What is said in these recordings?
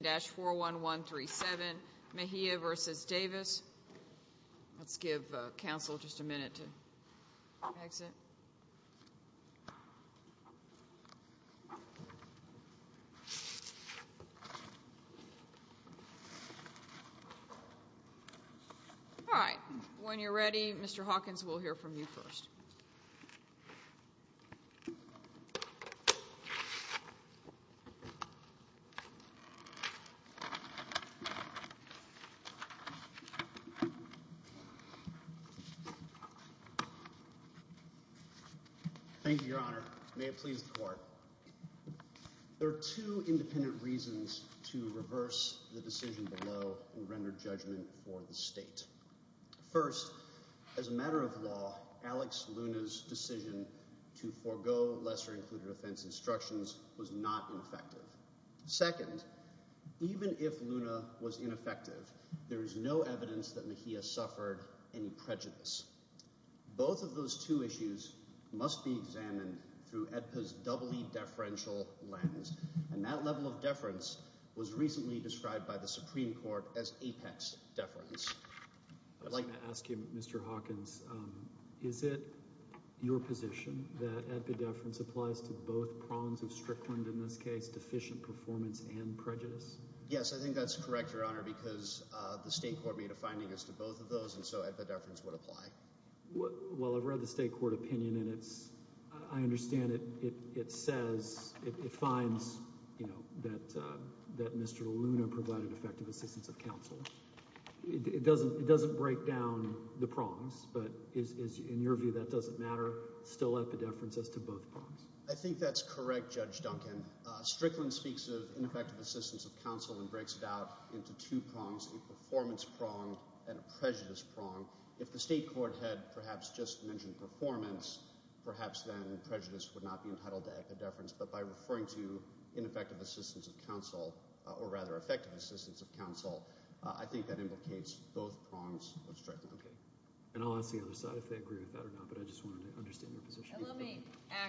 of the Office of the Attorney General. When you're ready, Mr. Hawkins, we'll hear from you first. Thank you, Your Honor. May it please the court. There are two independent reasons to reverse the decision below and render judgment for the state. First, as a matter of law, Alex Luna's decision to forego lesser-included offense instructions was not ineffective. Second, even if Luna was ineffective, there is no evidence that Mejia suffered any prejudice. Both of those two issues must be examined through AEDPA's doubly deferential lens. And that level of deference was recently described by the Supreme Court as apex deference. I'd like to ask you, Mr. Hawkins, is it your position that AEDPA deference applies to both prongs of Strickland, in this case, deficient performance and prejudice? Yes, I think that's correct, Your Honor, because the state court made a finding as to both of those, and so AEDPA deference would apply. Well, I've read the state court opinion, and it's – I understand it says – it finds, you know, that Mr. Luna provided effective assistance of counsel. It doesn't break down the prongs, but is – in your view, that doesn't matter, still at the deference as to both prongs? I think that's correct, Judge Duncan. Strickland speaks of ineffective assistance of counsel and breaks it out into two prongs, a performance prong and a prejudice prong. If the state court had perhaps just mentioned performance, perhaps then prejudice would not be entitled to AEDPA deference. But by referring to ineffective assistance of counsel, or rather effective assistance of counsel, I think that implicates both prongs of Strickland. Okay. And I'll ask the other side if they agree with that or not, but I just wanted to understand their position. Let me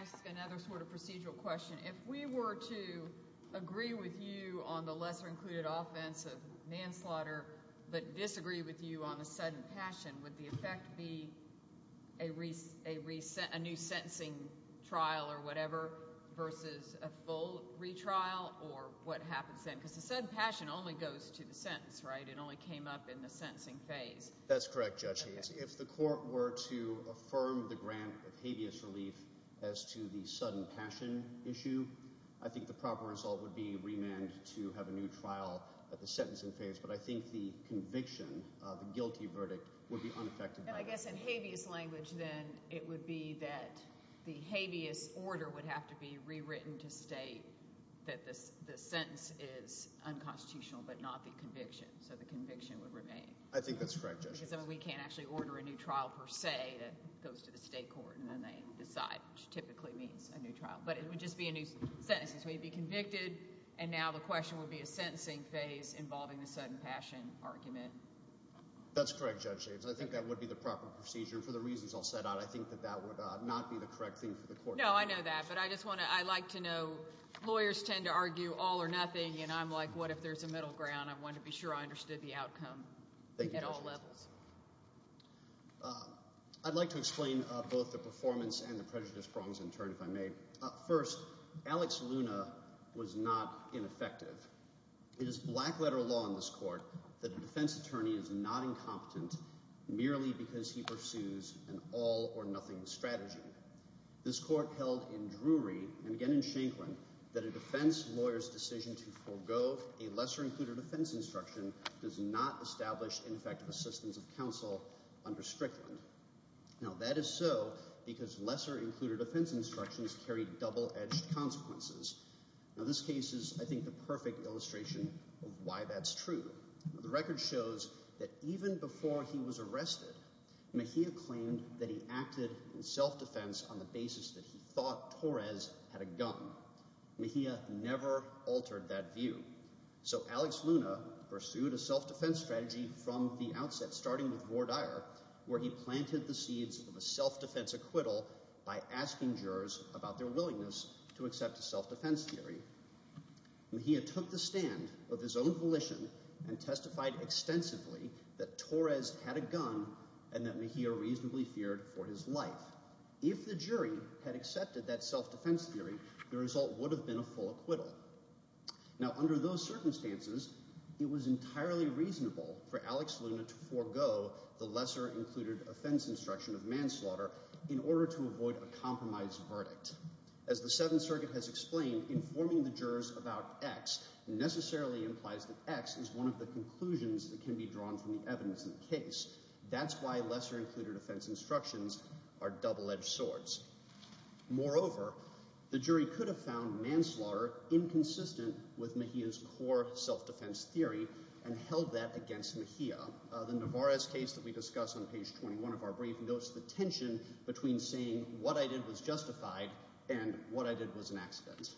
ask another sort of procedural question. If we were to agree with you on the lesser-included offense of manslaughter but disagree with you on the sudden passion, would the effect be a new sentencing trial or whatever versus a full retrial? Or what happens then? Because the said passion only goes to the sentence, right? It only came up in the sentencing phase. That's correct, Judge Hayes. If the court were to affirm the grant of habeas relief as to the sudden passion issue, I think the proper result would be remand to have a new trial at the sentencing phase. But I think the conviction, the guilty verdict, would be unaffected by that. And I guess in habeas language then it would be that the habeas order would have to be rewritten to state that the sentence is unconstitutional but not the conviction, so the conviction would remain. I think that's correct, Judge Hayes. Because then we can't actually order a new trial per se that goes to the state court, and then they decide, which typically means a new trial. But it would just be a new sentence. We'd be convicted, and now the question would be a sentencing phase involving the sudden passion argument. That's correct, Judge Hayes. I think that would be the proper procedure. For the reasons I'll set out, I think that that would not be the correct thing for the court to do. Thank you, Judge Hayes. At all levels. I'd like to explain both the performance and the prejudice prongs in turn if I may. First, Alex Luna was not ineffective. It is black-letter law in this court that a defense attorney is not incompetent merely because he pursues an all-or-nothing strategy. This court held in Drury and again in Shankland that a defense lawyer's decision to forego a lesser-included offense instruction does not establish ineffective assistance of counsel under Strickland. Now that is so because lesser-included offense instructions carry double-edged consequences. Now this case is, I think, the perfect illustration of why that's true. The record shows that even before he was arrested, Mejia claimed that he acted in self-defense on the basis that he thought Torres had a gun. Mejia never altered that view. So Alex Luna pursued a self-defense strategy from the outset starting with Vordire where he planted the seeds of a self-defense acquittal by asking jurors about their willingness to accept a self-defense theory. Mejia took the stand of his own volition and testified extensively that Torres had a gun and that Mejia reasonably feared for his life. If the jury had accepted that self-defense theory, the result would have been a full acquittal. Now under those circumstances, it was entirely reasonable for Alex Luna to forego the lesser-included offense instruction of manslaughter in order to avoid a compromise verdict. As the Seventh Circuit has explained, informing the jurors about X necessarily implies that X is one of the conclusions that can be drawn from the evidence in the case. That's why lesser-included offense instructions are double-edged swords. Moreover, the jury could have found manslaughter inconsistent with Mejia's core self-defense theory and held that against Mejia. The Navarez case that we discuss on page 21 of our brief notes the tension between saying what I did was justified and what I did was an accident.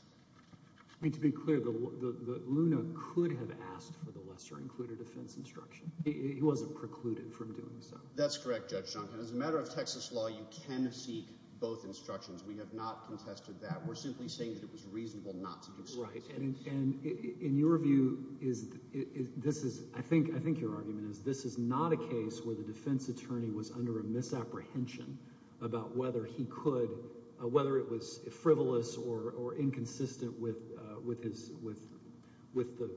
I mean to be clear, Luna could have asked for the lesser-included offense instruction. He wasn't precluded from doing so. That's correct, Judge Jonkin. As a matter of Texas law, you can seek both instructions. We have not contested that. We're simply saying that it was reasonable not to do so. In your view, I think your argument is this is not a case where the defense attorney was under a misapprehension about whether he could, whether it was frivolous or inconsistent with the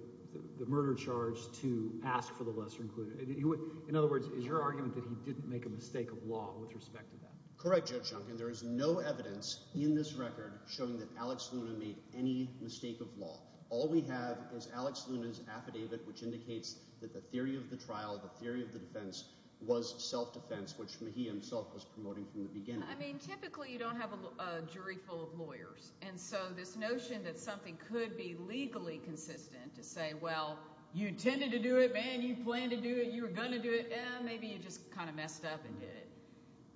murder charge to ask for the lesser-included. In other words, is your argument that he didn't make a mistake of law with respect to that? Correct, Judge Jonkin. There is no evidence in this record showing that Alex Luna made any mistake of law. All we have is Alex Luna's affidavit, which indicates that the theory of the trial, the theory of the defense was self-defense, which Mejia himself was promoting from the beginning. I mean typically you don't have a jury full of lawyers, and so this notion that something could be legally consistent to say, well, you intended to do it, man. You planned to do it. You were going to do it. Yeah, maybe you just kind of messed up and did it.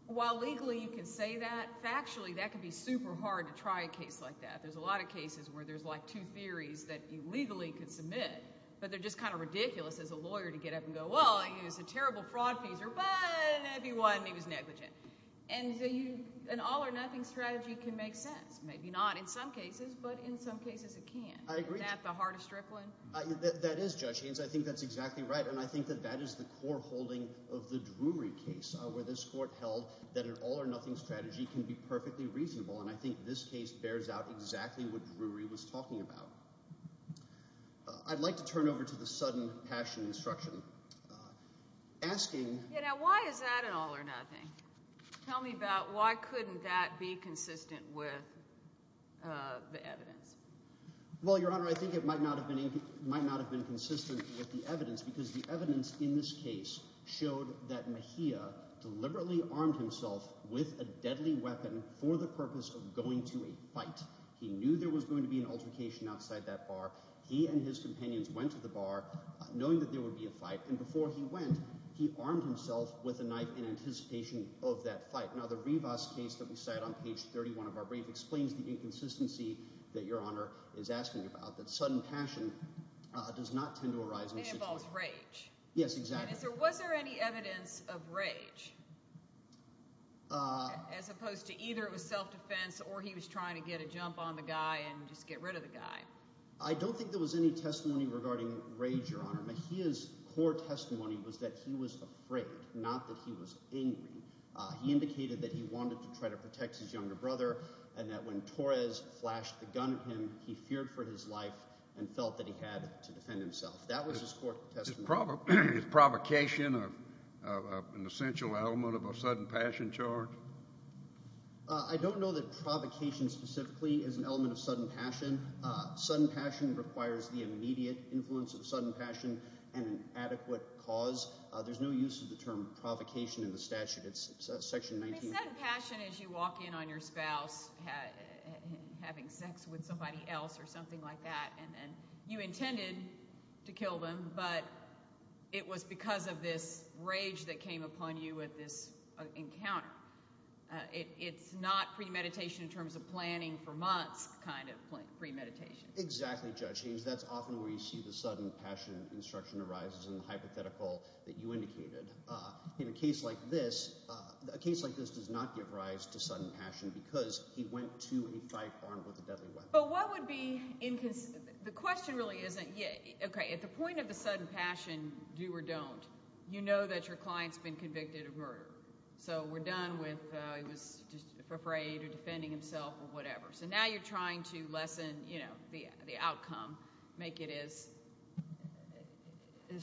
While legally you can say that, factually that can be super hard to try a case like that. There's a lot of cases where there's like two theories that you legally could submit, but they're just kind of ridiculous as a lawyer to get up and go, well, he was a terrible fraud peaser, but maybe he was negligent. And an all-or-nothing strategy can make sense. Maybe not in some cases, but in some cases it can. I agree. Isn't that the heart of Strickland? That is, Judge Haynes. I think that's exactly right. And I think that that is the core holding of the Drury case where this court held that an all-or-nothing strategy can be perfectly reasonable, and I think this case bears out exactly what Drury was talking about. I'd like to turn over to the sudden passion instruction. Asking— Yeah, now why is that an all-or-nothing? Tell me about why couldn't that be consistent with the evidence. Well, Your Honor, I think it might not have been consistent with the evidence because the evidence in this case showed that Mejia deliberately armed himself with a deadly weapon for the purpose of going to a fight. He knew there was going to be an altercation outside that bar. He and his companions went to the bar knowing that there would be a fight, and before he went, he armed himself with a knife in anticipation of that fight. Now, the Rivas case that we cite on page 31 of our brief explains the inconsistency that Your Honor is asking about, that sudden passion does not tend to arise in this situation. It involves rage. Yes, exactly. And was there any evidence of rage as opposed to either it was self-defense or he was trying to get a jump on the guy and just get rid of the guy? I don't think there was any testimony regarding rage, Your Honor. Mejia's core testimony was that he was afraid, not that he was angry. He indicated that he wanted to try to protect his younger brother and that when Torres flashed the gun at him, he feared for his life and felt that he had to defend himself. That was his core testimony. Is provocation an essential element of a sudden passion charge? I don't know that provocation specifically is an element of sudden passion. Sudden passion requires the immediate influence of sudden passion and an adequate cause. There's no use of the term provocation in the statute. It's section 19. The sudden passion is you walk in on your spouse having sex with somebody else or something like that, and you intended to kill them, but it was because of this rage that came upon you at this encounter. It's not premeditation in terms of planning for months kind of premeditation. Exactly, Judge Haynes. That's often where you see the sudden passion instruction arises in the hypothetical that you indicated. In a case like this, a case like this does not give rise to sudden passion because he went to a fight armed with a deadly weapon. But what would be – the question really isn't – okay, at the point of the sudden passion, do or don't, you know that your client's been convicted of murder. So we're done with he was afraid or defending himself or whatever. So now you're trying to lessen the outcome, make it as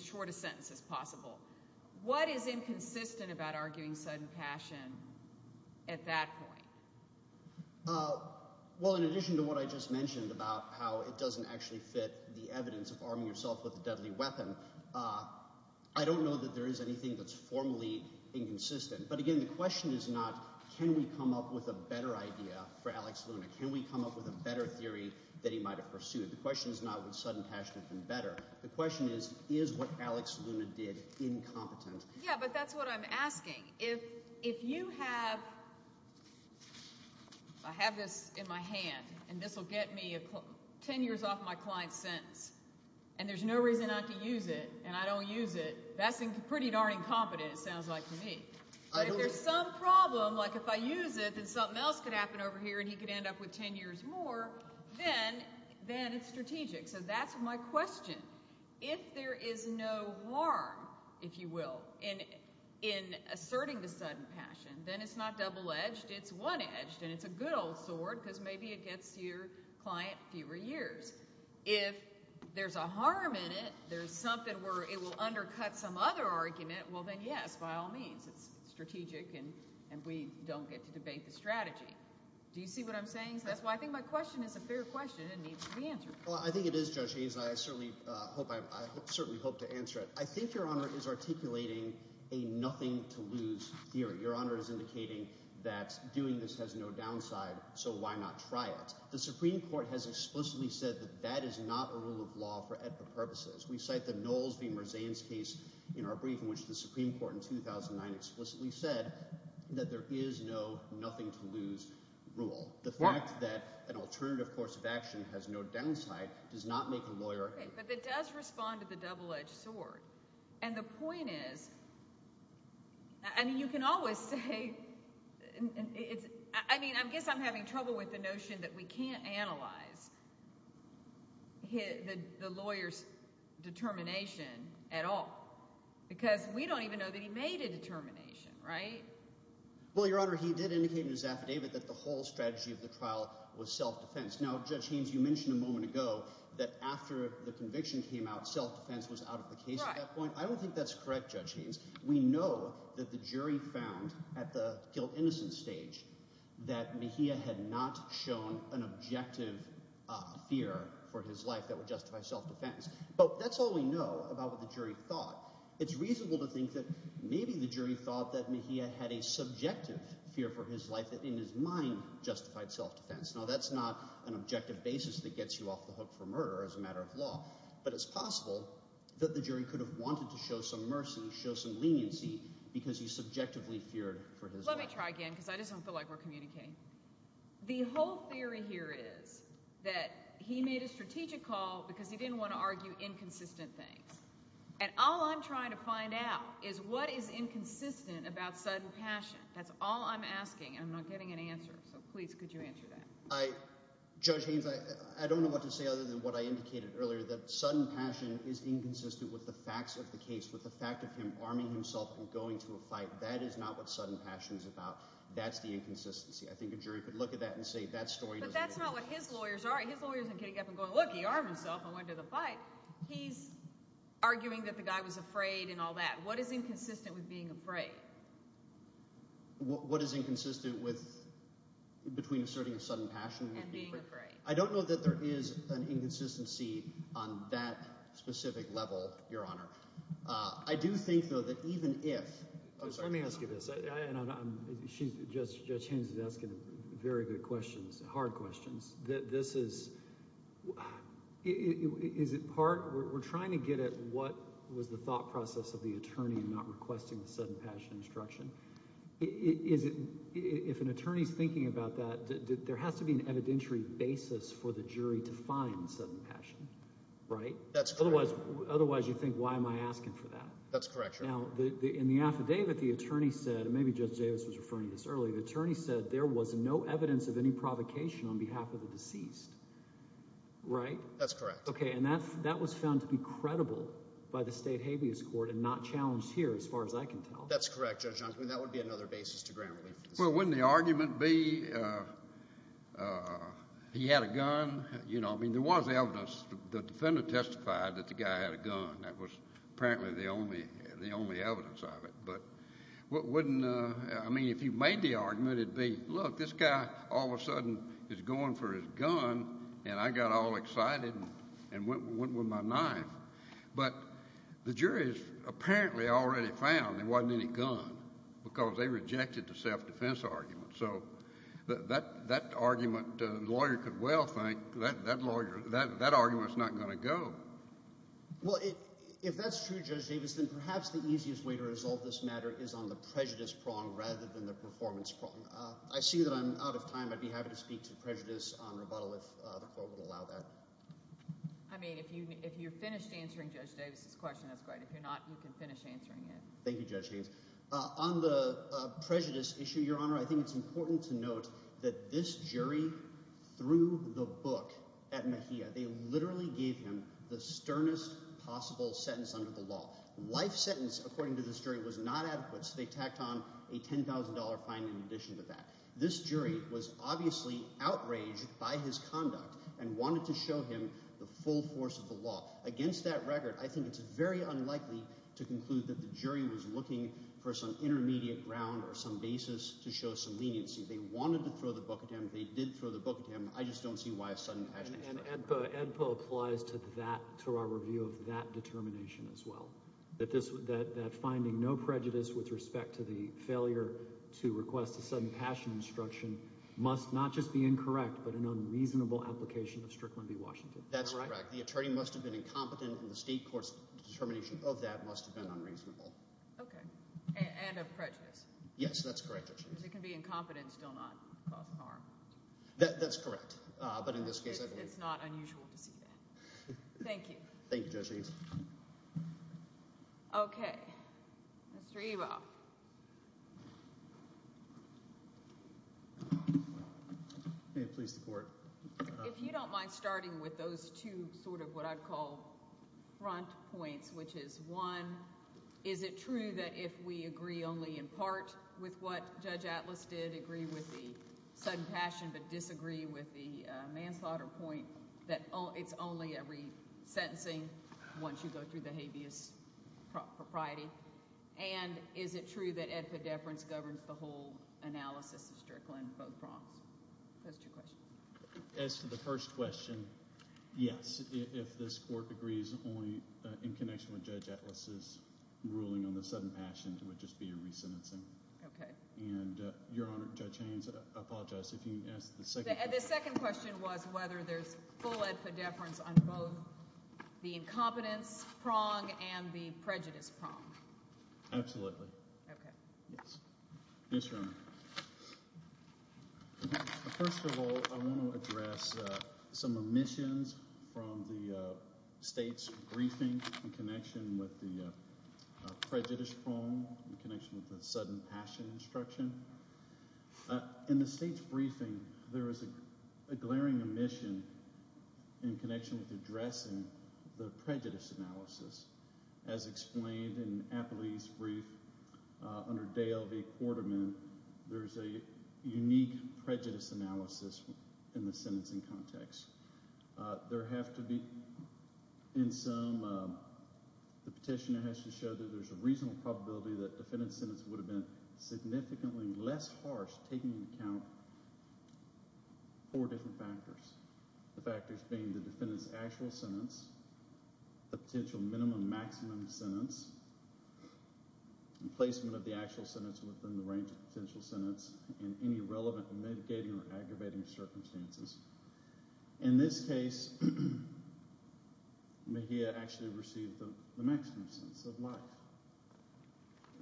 short a sentence as possible. What is inconsistent about arguing sudden passion at that point? Well, in addition to what I just mentioned about how it doesn't actually fit the evidence of arming yourself with a deadly weapon, I don't know that there is anything that's formally inconsistent. But again, the question is not can we come up with a better idea for Alex Luna? Can we come up with a better theory that he might have pursued? The question is not would sudden passion have been better. The question is, is what Alex Luna did incompetent? Yeah, but that's what I'm asking. If you have – I have this in my hand, and this will get me 10 years off my client's sentence, and there's no reason not to use it, and I don't use it, that's pretty darn incompetent it sounds like to me. But if there's some problem, like if I use it, then something else could happen over here and he could end up with 10 years more, then it's strategic. So that's my question. If there is no harm, if you will, in asserting the sudden passion, then it's not double-edged. It's one-edged, and it's a good old sword because maybe it gets your client fewer years. If there's a harm in it, there's something where it will undercut some other argument, well, then yes, by all means. It's strategic, and we don't get to debate the strategy. Do you see what I'm saying? So that's why I think my question is a fair question and needs to be answered. Well, I think it is, Judge Hayes, and I certainly hope – I certainly hope to answer it. I think Your Honor is articulating a nothing-to-lose theory. Your Honor is indicating that doing this has no downside, so why not try it? The Supreme Court has explicitly said that that is not a rule of law for ethical purposes. We cite the Knowles v. Merzain's case in our brief in which the Supreme Court in 2009 explicitly said that there is no nothing-to-lose rule. The fact that an alternative course of action has no downside does not make a lawyer – But it does respond to the double-edged sword. And the point is – I mean you can always say – I mean I guess I'm having trouble with the notion that we can't analyze the lawyer's determination at all because we don't even know that he made a determination, right? Well, Your Honor, he did indicate in his affidavit that the whole strategy of the trial was self-defense. Now, Judge Haynes, you mentioned a moment ago that after the conviction came out, self-defense was out of the case at that point. I don't think that's correct, Judge Haynes. We know that the jury found at the kill-innocence stage that Mejia had not shown an objective fear for his life that would justify self-defense. But that's all we know about what the jury thought. It's reasonable to think that maybe the jury thought that Mejia had a subjective fear for his life that in his mind justified self-defense. Now, that's not an objective basis that gets you off the hook for murder as a matter of law. But it's possible that the jury could have wanted to show some mercy, show some leniency because he subjectively feared for his life. Let me try again because I just don't feel like we're communicating. The whole theory here is that he made a strategic call because he didn't want to argue inconsistent things. And all I'm trying to find out is what is inconsistent about sudden passion. That's all I'm asking, and I'm not getting an answer. So, please, could you answer that? Judge Haynes, I don't know what to say other than what I indicated earlier, that sudden passion is inconsistent with the facts of the case, with the fact of him arming himself and going to a fight. That is not what sudden passion is about. That's the inconsistency. I think a jury could look at that and say that story doesn't exist. But that's not what his lawyers are. His lawyers aren't getting up and going, look, he armed himself and went to the fight. He's arguing that the guy was afraid and all that. What is inconsistent with being afraid? What is inconsistent with – between asserting a sudden passion and being afraid? I don't know that there is an inconsistency on that specific level, Your Honor. I do think, though, that even if – I'm sorry. Let me ask you this, and I'm – Judge Haynes is asking very good questions, hard questions. This is – is it part – we're trying to get at what was the thought process of the attorney in not requesting the sudden passion instruction. Is it – if an attorney is thinking about that, there has to be an evidentiary basis for the jury to find sudden passion, right? That's correct. Otherwise you think, why am I asking for that? That's correct, Your Honor. Now, in the affidavit, the attorney said – and maybe Judge Davis was referring to this earlier – the attorney said there was no evidence of any provocation on behalf of the deceased, right? That's correct. Okay, and that was found to be credible by the State Habeas Court and not challenged here as far as I can tell. That's correct, Judge Johnson. That would be another basis to ground relief. Well, wouldn't the argument be he had a gun? I mean there was evidence. The defendant testified that the guy had a gun. That was apparently the only evidence of it. But wouldn't – I mean if you made the argument, it would be, look, this guy all of a sudden is going for his gun, and I got all excited and went with my knife. But the jury has apparently already found there wasn't any gun because they rejected the self-defense argument. So that argument, the lawyer could well think, that argument is not going to go. Well, if that's true, Judge Davis, then perhaps the easiest way to resolve this matter is on the prejudice prong rather than the performance prong. I see that I'm out of time. I'd be happy to speak to prejudice on rebuttal if the court would allow that. I mean if you're finished answering Judge Davis's question, that's great. If you're not, you can finish answering it. Thank you, Judge Haynes. On the prejudice issue, Your Honor, I think it's important to note that this jury threw the book at Mejia. They literally gave him the sternest possible sentence under the law. Life sentence, according to this jury, was not adequate, so they tacked on a $10,000 fine in addition to that. This jury was obviously outraged by his conduct and wanted to show him the full force of the law. Against that record, I think it's very unlikely to conclude that the jury was looking for some intermediate ground or some basis to show some leniency. They wanted to throw the book at him. They did throw the book at him. I just don't see why a sudden passion instruction. And AEDPA applies to our review of that determination as well. That finding no prejudice with respect to the failure to request a sudden passion instruction must not just be incorrect but an unreasonable application of Strickland v. Washington. That's correct. The attorney must have been incompetent, and the state court's determination of that must have been unreasonable. Okay. And of prejudice. Yes, that's correct. Because it can be incompetent and still not cause harm. That's correct. But in this case, I believe. It's not unusual to see that. Thank you. Thank you, Judge Haynes. Okay. Mr. Evo. May it please the court. If you don't mind starting with those two sort of what I'd call front points, which is, one, is it true that if we agree only in part with what Judge Atlas did, agree with the sudden passion but disagree with the manslaughter point that it's only every sentencing once you go through the habeas propriety? And is it true that AEDPA deference governs the whole analysis of Strickland, both prongs? Those are two questions. As to the first question, yes. If this court agrees only in connection with Judge Atlas' ruling on the sudden passion, it would just be a resentencing. Okay. And, Your Honor, Judge Haynes, I apologize if you asked the second question. The second question was whether there's full AEDPA deference on both the incompetence prong and the prejudice prong. Absolutely. Okay. Yes. Yes, Your Honor. First of all, I want to address some omissions from the state's briefing in connection with the prejudice prong, in connection with the sudden passion instruction. In the state's briefing, there is a glaring omission in connection with addressing the prejudice analysis. As explained in Appley's brief under Dale v. Quarterman, there's a unique prejudice analysis in the sentencing context. There have to be, in some, the petitioner has to show that there's a reasonable probability that the defendant's sentence would have been significantly less harsh taking into account four different factors, the factors being the defendant's actual sentence, the potential minimum maximum sentence, the placement of the actual sentence within the range of potential sentence, and any relevant mitigating or aggravating circumstances. In this case, Mejia actually received the maximum sentence of life.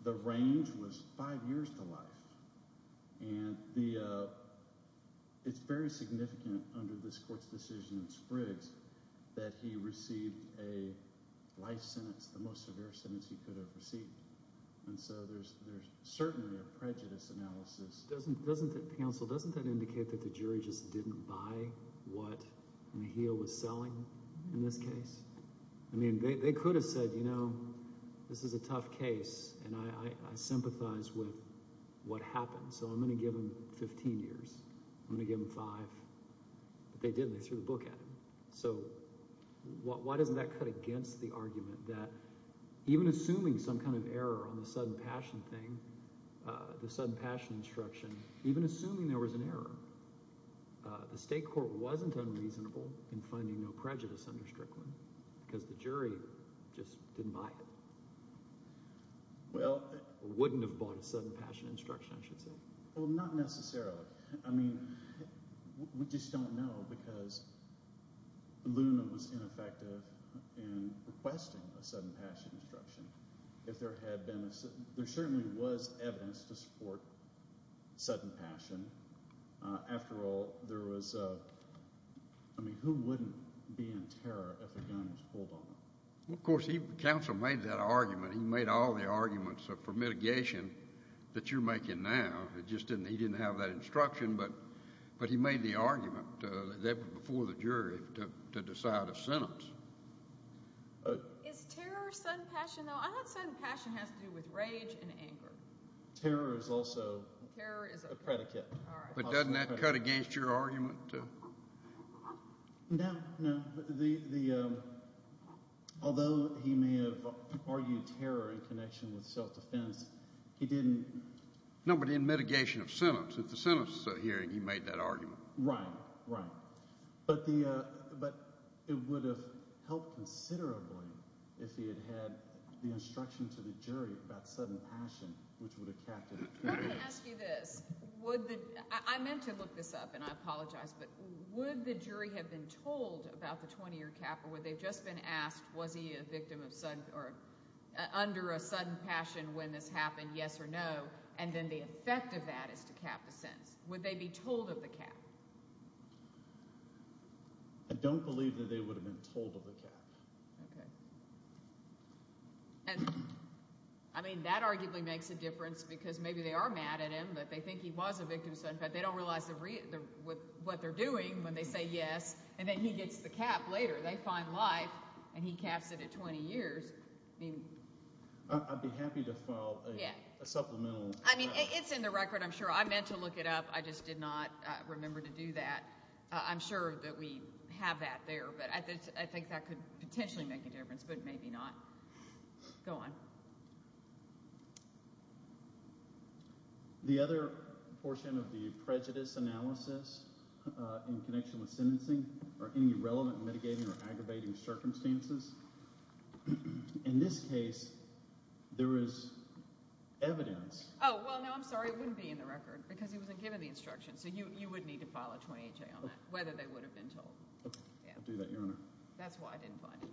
The range was five years to life. And it's very significant under this court's decision in Spriggs that he received a life sentence, the most severe sentence he could have received. And so there's certainly a prejudice analysis. Counsel, doesn't that indicate that the jury just didn't buy what Mejia was selling in this case? I mean, they could have said, you know, this is a tough case, and I sympathize with what happened, so I'm going to give him 15 years. I'm going to give him five. But they didn't. They threw the book at him. So why doesn't that cut against the argument that even assuming some kind of error on the sudden passion thing, the sudden passion instruction, even assuming there was an error, the state court wasn't unreasonable in finding no prejudice under Strickland because the jury just didn't buy it. Or wouldn't have bought a sudden passion instruction, I should say. Well, not necessarily. I mean we just don't know because Luna was ineffective in requesting a sudden passion instruction. There certainly was evidence to support sudden passion. After all, there was a – I mean who wouldn't be in terror if a gun was pulled on them? Well, of course, counsel made that argument. He made all the arguments for mitigation that you're making now. It just didn't – he didn't have that instruction, but he made the argument before the jury to decide a sentence. Is terror sudden passion, though? I thought sudden passion has to do with rage and anger. Terror is also a predicate. But doesn't that cut against your argument? No, no. Although he may have argued terror in connection with self-defense, he didn't – No, but in mitigation of sentence. If the sentence is a hearing, he made that argument. Right, right. But it would have helped considerably if he had had the instruction to the jury about sudden passion, which would have capped it. Let me ask you this. Would the – I meant to look this up, and I apologize, but would the jury have been told about the 20-year cap or would they have just been asked was he a victim of sudden – or under a sudden passion when this happened, yes or no, and then the effect of that is to cap the sentence? Would they be told of the cap? I don't believe that they would have been told of the cap. Okay. And, I mean, that arguably makes a difference because maybe they are mad at him, but they think he was a victim of sudden – in fact, they don't realize what they're doing when they say yes, and then he gets the cap later. They find life, and he caps it at 20 years. I'd be happy to file a supplemental – I mean, it's in the record, I'm sure. I meant to look it up. I just did not remember to do that. I'm sure that we have that there, but I think that could potentially make a difference, but maybe not. Go on. In this case, there is evidence. Oh, well, no, I'm sorry. It wouldn't be in the record because he wasn't given the instructions, so you would need to file a 28-J on that, whether they would have been told. I'll do that, Your Honor. That's why I didn't find it.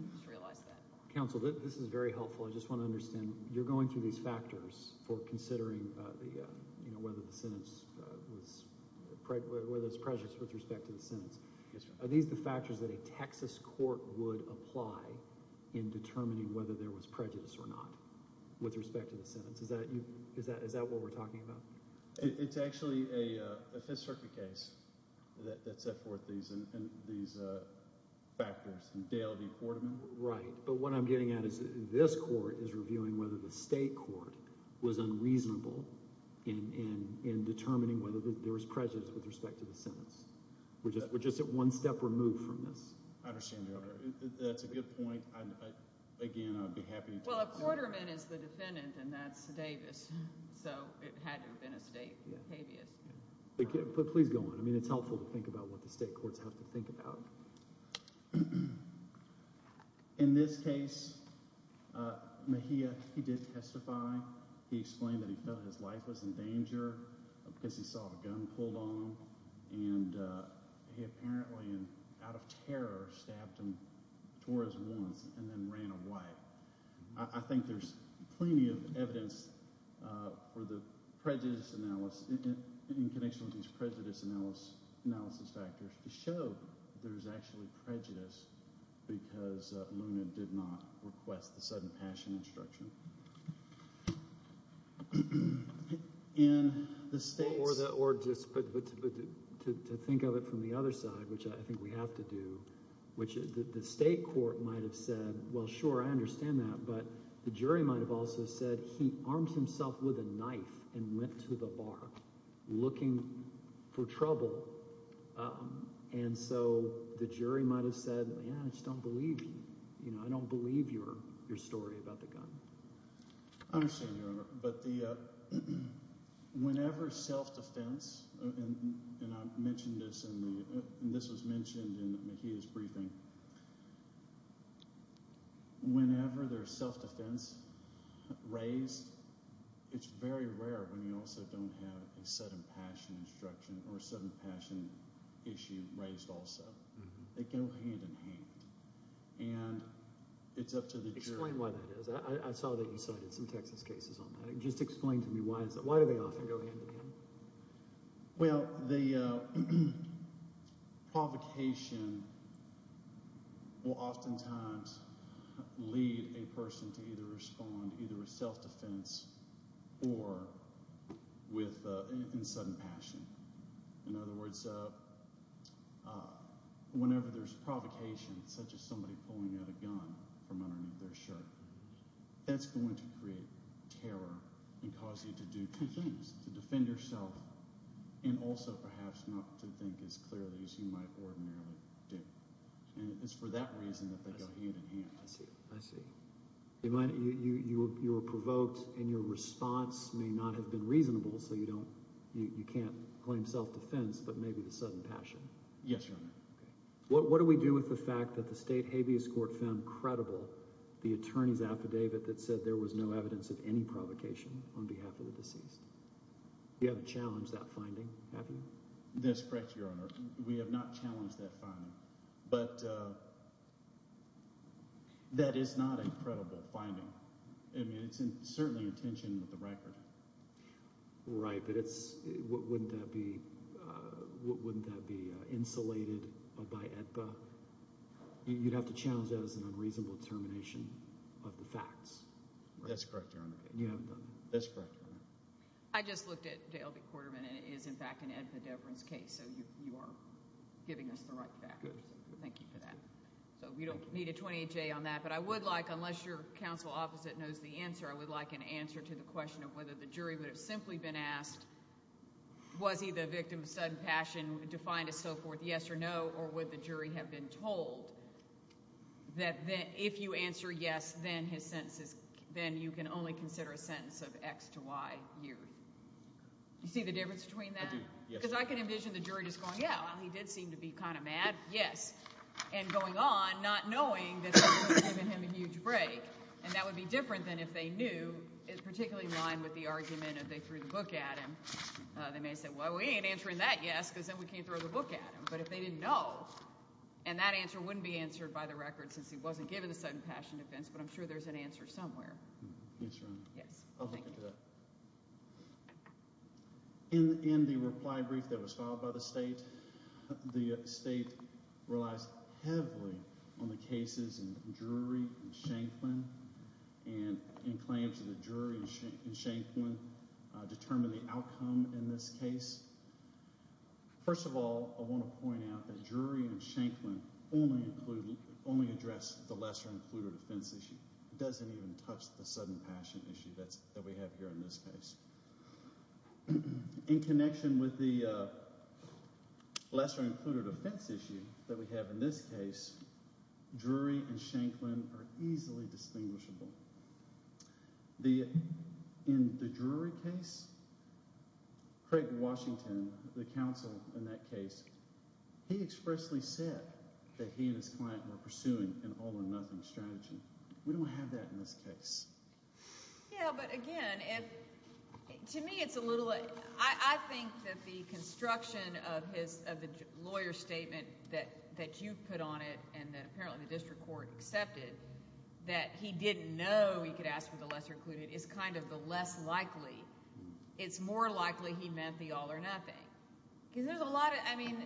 I just realized that. Counsel, this is very helpful. I just want to understand. You're going through these factors for considering whether the sentence was – whether it's prejudiced with respect to the sentence. Yes, sir. Are these the factors that a Texas court would apply in determining whether there was prejudice or not with respect to the sentence? Is that what we're talking about? It's actually a Fifth Circuit case that set forth these factors. Dale v. Quarterman. Right, but what I'm getting at is this court is reviewing whether the state court was unreasonable in determining whether there was prejudice with respect to the sentence. We're just one step removed from this. I understand, Your Honor. That's a good point. Again, I would be happy to talk to you. Well, Quarterman is the defendant, and that's Davis, so it had to have been a state habeas. Please go on. I mean it's helpful to think about what the state courts have to think about. In this case, Mejia, he did testify. He explained that he felt his life was in danger because he saw a gun pulled on him, and he apparently, out of terror, stabbed him, tore his wounds, and then ran away. I think there's plenty of evidence for the prejudice analysis in connection with these prejudice analysis factors to show there's actually prejudice because Luna did not request the sudden passion instruction. In the states— Or just to think of it from the other side, which I think we have to do, which the state court might have said, well, sure, I understand that, but the jury might have also said he armed himself with a knife and went to the bar looking for trouble. And so the jury might have said, yeah, I just don't believe you. I don't believe your story about the gun. I understand, Your Honor. But whenever self-defense—and I mentioned this, and this was mentioned in Mejia's briefing. Whenever there's self-defense raised, it's very rare when you also don't have a sudden passion instruction or a sudden passion issue raised also. They go hand in hand, and it's up to the jury. Can you explain why that is? I saw that you cited some Texas cases on that. Just explain to me why is that? Why do they often go hand in hand? Well, the provocation will oftentimes lead a person to either respond either with self-defense or with a sudden passion. In other words, whenever there's provocation, such as somebody pulling out a gun from underneath their shirt, that's going to create terror and cause you to do two things, to defend yourself and also perhaps not to think as clearly as you might ordinarily do. And it's for that reason that they go hand in hand. I see. I see. You were provoked, and your response may not have been reasonable, so you can't claim self-defense but maybe the sudden passion. Yes, Your Honor. What do we do with the fact that the state habeas court found credible the attorney's affidavit that said there was no evidence of any provocation on behalf of the deceased? You haven't challenged that finding, have you? That's correct, Your Honor. We have not challenged that finding, but that is not a credible finding. I mean it's certainly in tension with the record. Right, but wouldn't that be insulated by AEDPA? You'd have to challenge that as an unreasonable determination of the facts. That's correct, Your Honor. You haven't done that? That's correct, Your Honor. I just looked at Dale B. Quarterman, and it is, in fact, an AEDPA deference case, so you are giving us the right factors. Thank you for that. So we don't need a 28-J on that. But I would like, unless your counsel opposite knows the answer, I would like an answer to the question of whether the jury would have simply been asked, was he the victim of sudden passion defined as so forth, yes or no, or would the jury have been told that if you answer yes, then you can only consider a sentence of X to Y years? Do you see the difference between that? I do, yes. Because I can envision the jury just going, yeah, well, he did seem to be kind of mad, yes, and going on not knowing that someone was giving him a huge break. And that would be different than if they knew, particularly in line with the argument that they threw the book at him. They may have said, well, we ain't answering that yes because then we can't throw the book at him. But if they didn't know, and that answer wouldn't be answered by the record since he wasn't given the sudden passion defense, but I'm sure there's an answer somewhere. Yes, Your Honor. Yes. I'll look into that. In the reply brief that was filed by the state, the state relies heavily on the cases in Drury and Shanklin and in claims that Drury and Shanklin determine the outcome in this case. First of all, I want to point out that Drury and Shanklin only address the lesser-included offense issue. It doesn't even touch the sudden passion issue that we have here in this case. In connection with the lesser-included offense issue that we have in this case, Drury and Shanklin are easily distinguishable. In the Drury case, Craig Washington, the counsel in that case, he expressly said that he and his client were pursuing an all-or-nothing strategy. We don't have that in this case. Yeah, but again, to me it's a little – I think that the construction of the lawyer's statement that you put on it and that apparently the district court accepted that he didn't know he could ask for the lesser-included is kind of the less likely. It's more likely he meant the all-or-nothing. Because there's a lot of – I mean,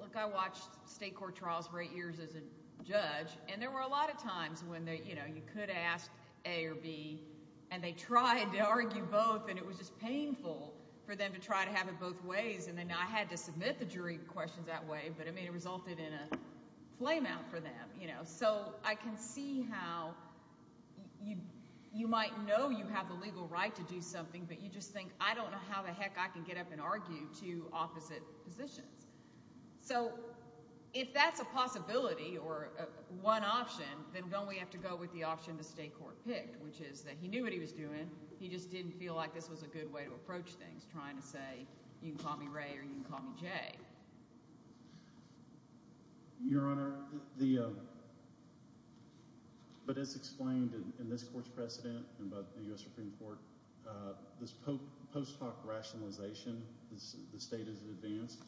look, I watched state court trials for eight years as a judge, and there were a lot of times when you could ask A or B, and they tried to argue both, and it was just painful for them to try to have it both ways. And then I had to submit the Drury questions that way, but, I mean, it resulted in a flame-out for them. So I can see how you might know you have the legal right to do something, but you just think, I don't know how the heck I can get up and argue two opposite positions. So if that's a possibility or one option, then don't we have to go with the option the state court picked, which is that he knew what he was doing. He just didn't feel like this was a good way to approach things, trying to say you can call me Ray or you can call me Jay. Your Honor, the – but as explained in this court's precedent and by the U.S. Supreme Court, this post hoc rationalization, the state is advanced,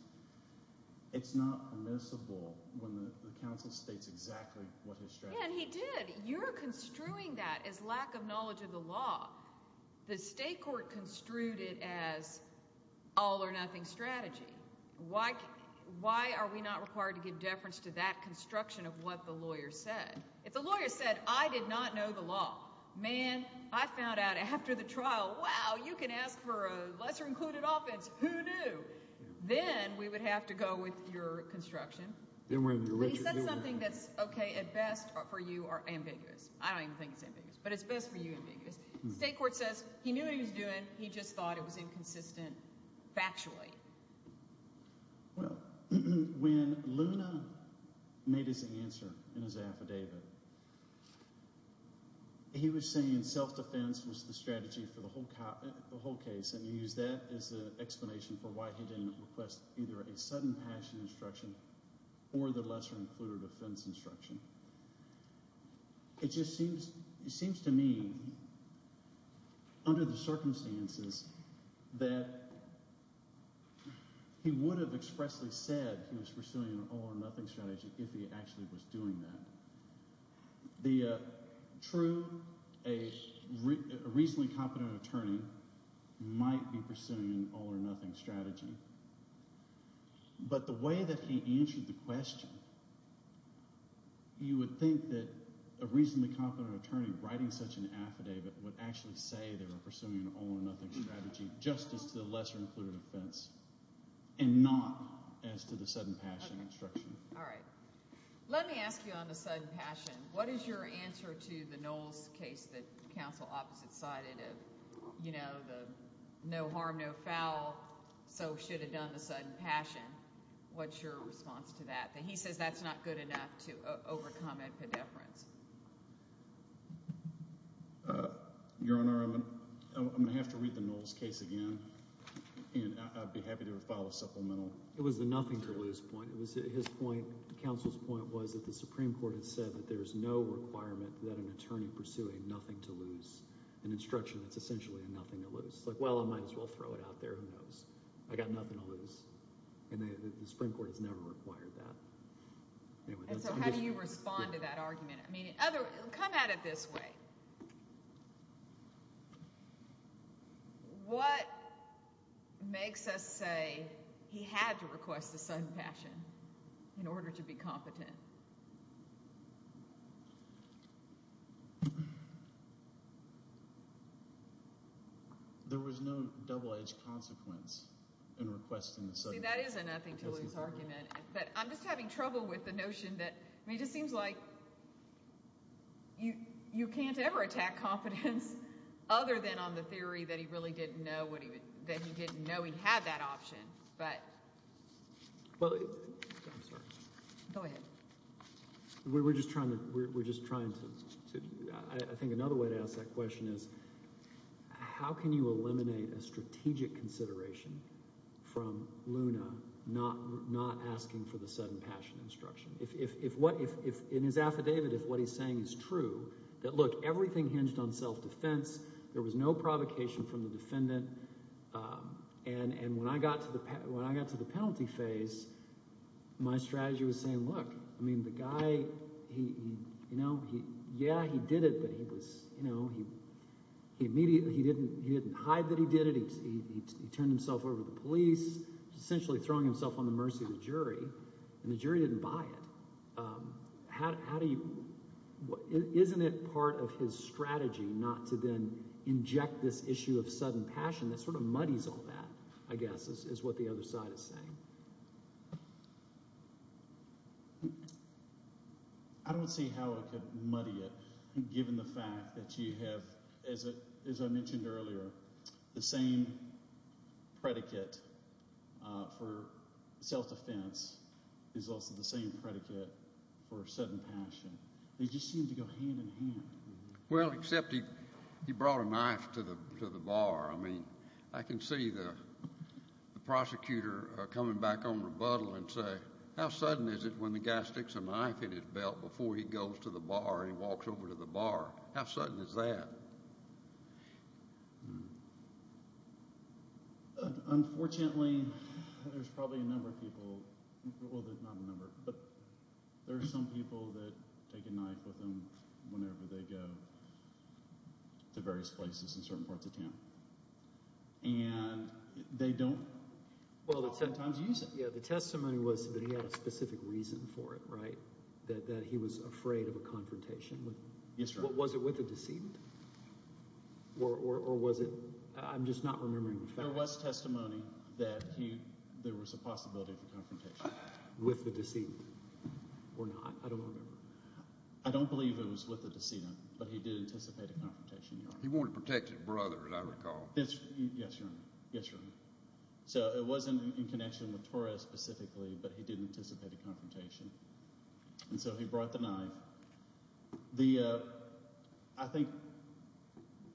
it's not permissible when the counsel states exactly what his strategy is. Yeah, and he did. You're construing that as lack of knowledge of the law. The state court construed it as all or nothing strategy. Why are we not required to give deference to that construction of what the lawyer said? If the lawyer said, I did not know the law, man, I found out after the trial, wow, you can ask for a lesser included offense, who knew? Then we would have to go with your construction. But he said something that's okay at best for you or ambiguous. I don't even think it's ambiguous, but it's best for you ambiguous. The state court says he knew what he was doing, he just thought it was inconsistent factually. Well, when Luna made his answer in his affidavit, he was saying self-defense was the strategy for the whole case, and he used that as an explanation for why he didn't request either a sudden passion instruction or the lesser included offense instruction. It just seems to me under the circumstances that he would have expressly said he was pursuing an all or nothing strategy if he actually was doing that. The true reasonably competent attorney might be pursuing an all or nothing strategy, but the way that he answered the question, you would think that a reasonably competent attorney writing such an affidavit would actually say they were pursuing an all or nothing strategy just as to the lesser included offense and not as to the sudden passion instruction. All right. Let me ask you on the sudden passion. What is your answer to the Knowles case that counsel Opposite sided? You know, the no harm, no foul, so should have done the sudden passion. What's your response to that? He says that's not good enough to overcome a pedeference. Your Honor, I'm going to have to read the Knowles case again, and I'd be happy to follow supplemental. It was the nothing to lose point. It was his point. The counsel's point was that the Supreme Court had said that there is no requirement that an attorney pursuing nothing to lose an instruction that's essentially a nothing to lose. It's like, well, I might as well throw it out there. Who knows? I got nothing to lose. And the Supreme Court has never required that. So how do you respond to that argument? I mean, in other words, come at it this way. What makes us say he had to request the sudden passion in order to be competent? There was no double-edged consequence in requesting the sudden passion. See, that is a nothing to lose argument. But I'm just having trouble with the notion that it just seems like you can't ever attack competence other than on the theory that he really didn't know he had that option. I'm sorry. Go ahead. We're just trying to—I think another way to ask that question is, how can you eliminate a strategic consideration from Luna not asking for the sudden passion instruction? In his affidavit, if what he's saying is true, that, look, everything hinged on self-defense, there was no provocation from the defendant, and when I got to the penalty phase, my strategy was saying, look, I mean, the guy, you know, yeah, he did it, he was, you know, he didn't hide that he did it, he turned himself over to the police, essentially throwing himself on the mercy of the jury, and the jury didn't buy it. How do you—isn't it part of his strategy not to then inject this issue of sudden passion that sort of muddies all that, I guess, is what the other side is saying? I don't see how it could muddy it, given the fact that you have, as I mentioned earlier, the same predicate for self-defense is also the same predicate for sudden passion. They just seem to go hand in hand. Well, except he brought a knife to the bar. I mean, I can see the prosecutor coming back on rebuttal and say, how sudden is it when the guy sticks a knife in his belt before he goes to the bar and he walks over to the bar? How sudden is that? Unfortunately, there's probably a number of people—well, not a number, but there are some people that take a knife with them whenever they go to various places in certain parts of town, and they don't oftentimes use it. Yeah, the testimony was that he had a specific reason for it, right, that he was afraid of a confrontation with— Yes, Your Honor. Was it with a decedent? Or was it—I'm just not remembering the facts. There was testimony that there was a possibility of a confrontation. With the decedent or not. I don't remember. I don't believe it was with the decedent, but he did anticipate a confrontation, Your Honor. He wore a protective brother, as I recall. Yes, Your Honor. Yes, Your Honor. So it was in connection with Torres specifically, but he did anticipate a confrontation. And so he brought the knife. I think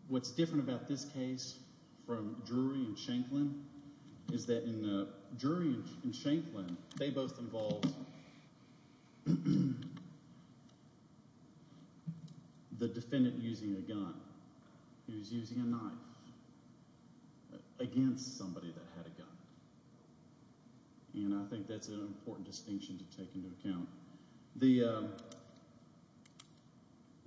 what's different about this case from Drury and Shanklin is that in Drury and Shanklin, they both involved the defendant using a gun. He was using a knife against somebody that had a gun, and I think that's an important distinction to take into account.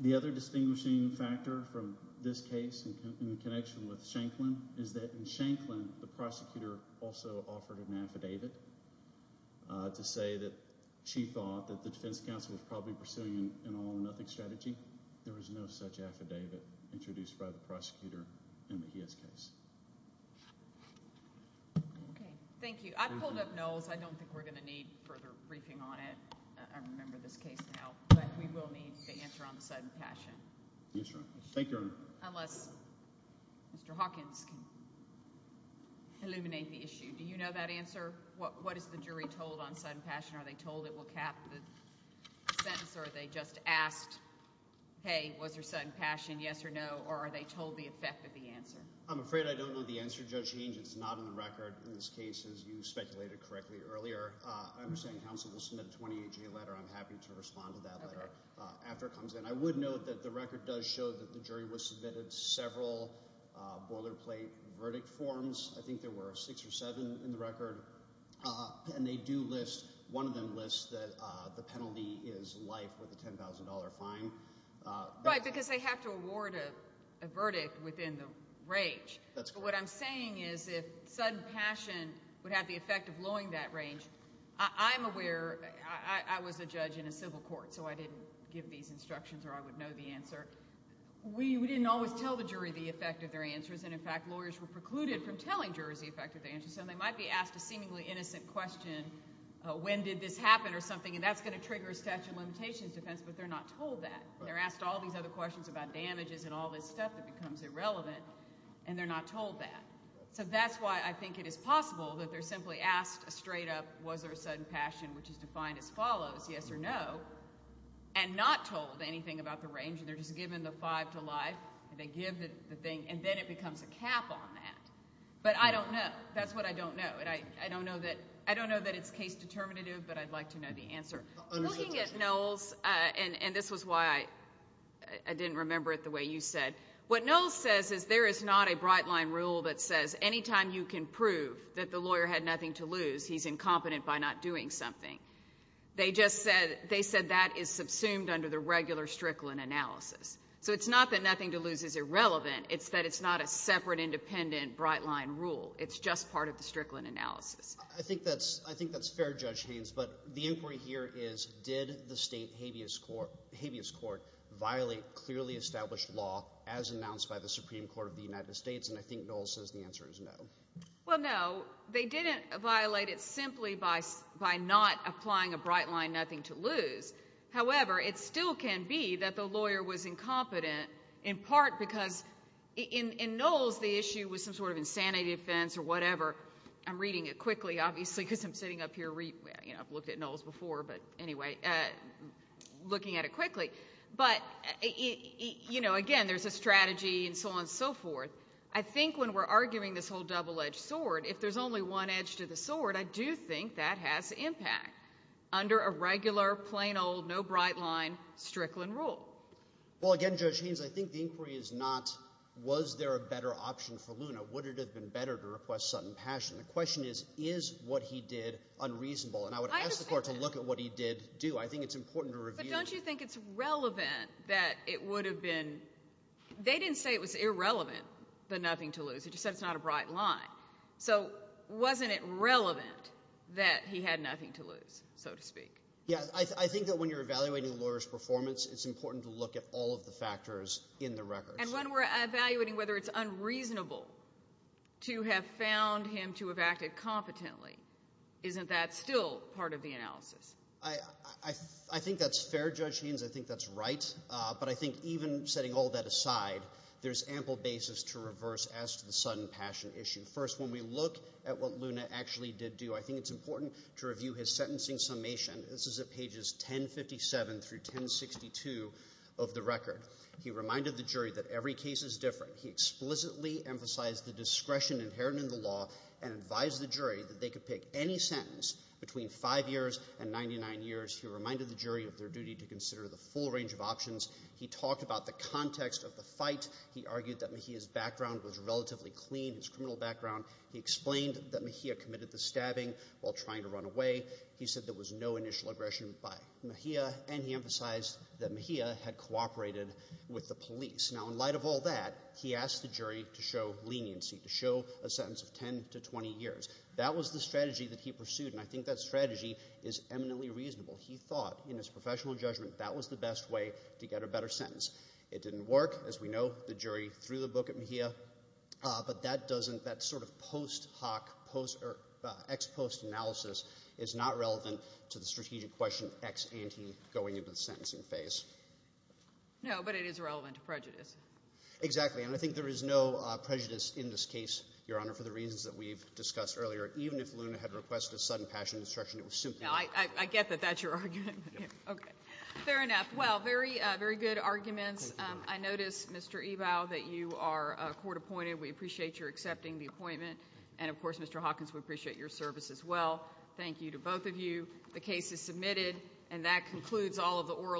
The other distinguishing factor from this case in connection with Shanklin is that in Shanklin, the prosecutor also offered an affidavit to say that she thought that the defense counsel was probably pursuing an all-or-nothing strategy. There was no such affidavit introduced by the prosecutor in the Heis case. Okay. Thank you. I pulled up no's. I don't think we're going to need further briefing on it. I remember this case now. But we will need the answer on the side of passion. Yes, Your Honor. Thank you, Your Honor. Unless Mr. Hawkins can illuminate the issue. Do you know that answer? What is the jury told on sudden passion? Are they told it will cap the sentence, or are they just asked, hey, was there sudden passion, yes or no? Or are they told the effect of the answer? I'm afraid I don't know the answer, Judge Hange. It's not on the record in this case, as you speculated correctly earlier. I understand counsel will submit a 28-G letter. I'm happy to respond to that letter after it comes in. I would note that the record does show that the jury was submitted several boilerplate verdict forms. I think there were six or seven in the record. And they do list, one of them lists that the penalty is life with a $10,000 fine. Right, because they have to award a verdict within the range. But what I'm saying is if sudden passion would have the effect of lowering that range, I'm aware. I was a judge in a civil court, so I didn't give these instructions or I would know the answer. We didn't always tell the jury the effect of their answers. And, in fact, lawyers were precluded from telling jurors the effect of their answers. So they might be asked a seemingly innocent question, when did this happen or something, and that's going to trigger a statute of limitations defense, but they're not told that. They're asked all these other questions about damages and all this stuff that becomes irrelevant, and they're not told that. So that's why I think it is possible that they're simply asked straight up was there a sudden passion, which is defined as follows, yes or no, and not told anything about the range. They're just given the five to life, and they give the thing, and then it becomes a cap on that. But I don't know. That's what I don't know. And I don't know that it's case determinative, but I'd like to know the answer. Looking at Knowles, and this was why I didn't remember it the way you said, what Knowles says is there is not a bright-line rule that says any time you can prove that the lawyer had nothing to lose, he's incompetent by not doing something. They just said that is subsumed under the regular Strickland analysis. So it's not that nothing to lose is irrelevant. It's that it's not a separate, independent, bright-line rule. It's just part of the Strickland analysis. I think that's fair, Judge Haynes. But the inquiry here is did the state habeas court violate clearly established law as announced by the Supreme Court of the United States? And I think Knowles says the answer is no. Well, no. They didn't violate it simply by not applying a bright-line nothing to lose. However, it still can be that the lawyer was incompetent in part because in Knowles, the issue was some sort of insanity defense or whatever. I'm reading it quickly, obviously, because I'm sitting up here. I've looked at Knowles before, but anyway, looking at it quickly. But, you know, again, there's a strategy and so on and so forth. I think when we're arguing this whole double-edged sword, if there's only one edge to the sword, I do think that has impact under a regular, plain old, no bright-line Strickland rule. Well, again, Judge Haynes, I think the inquiry is not was there a better option for Luna. Would it have been better to request sudden passion? The question is, is what he did unreasonable? And I would ask the court to look at what he did do. I think it's important to review. But don't you think it's relevant that it would have been—they didn't say it was irrelevant, the nothing to lose. They just said it's not a bright line. So wasn't it relevant that he had nothing to lose, so to speak? Yeah, I think that when you're evaluating a lawyer's performance, it's important to look at all of the factors in the record. And when we're evaluating whether it's unreasonable to have found him to have acted competently, isn't that still part of the analysis? I think that's fair, Judge Haynes. I think that's right. But I think even setting all that aside, there's ample basis to reverse as to the sudden passion issue. First, when we look at what Luna actually did do, I think it's important to review his sentencing summation. This is at pages 1057 through 1062 of the record. He reminded the jury that every case is different. He explicitly emphasized the discretion inherent in the law and advised the jury that they could pick any sentence between five years and 99 years. He reminded the jury of their duty to consider the full range of options. He talked about the context of the fight. He argued that Mejia's background was relatively clean, his criminal background. He explained that Mejia committed the stabbing while trying to run away. He said there was no initial aggression by Mejia. And he emphasized that Mejia had cooperated with the police. Now, in light of all that, he asked the jury to show leniency, to show a sentence of 10 to 20 years. That was the strategy that he pursued, and I think that strategy is eminently reasonable. He thought, in his professional judgment, that was the best way to get a better sentence. It didn't work. No, but it is relevant to prejudice. Exactly, and I think there is no prejudice in this case, Your Honor, for the reasons that we've discussed earlier. Even if Luna had requested sudden passion destruction, it was simply not. I get that that's your argument. Okay. Fair enough. Well, very good arguments. I notice, Mr. Ebau, that you are court appointed. We appreciate your accepting the appointment. And, of course, Mr. Hawkins, we appreciate your service as well. Thank you to both of you. The case is submitted, and that concludes all of the oral evidence.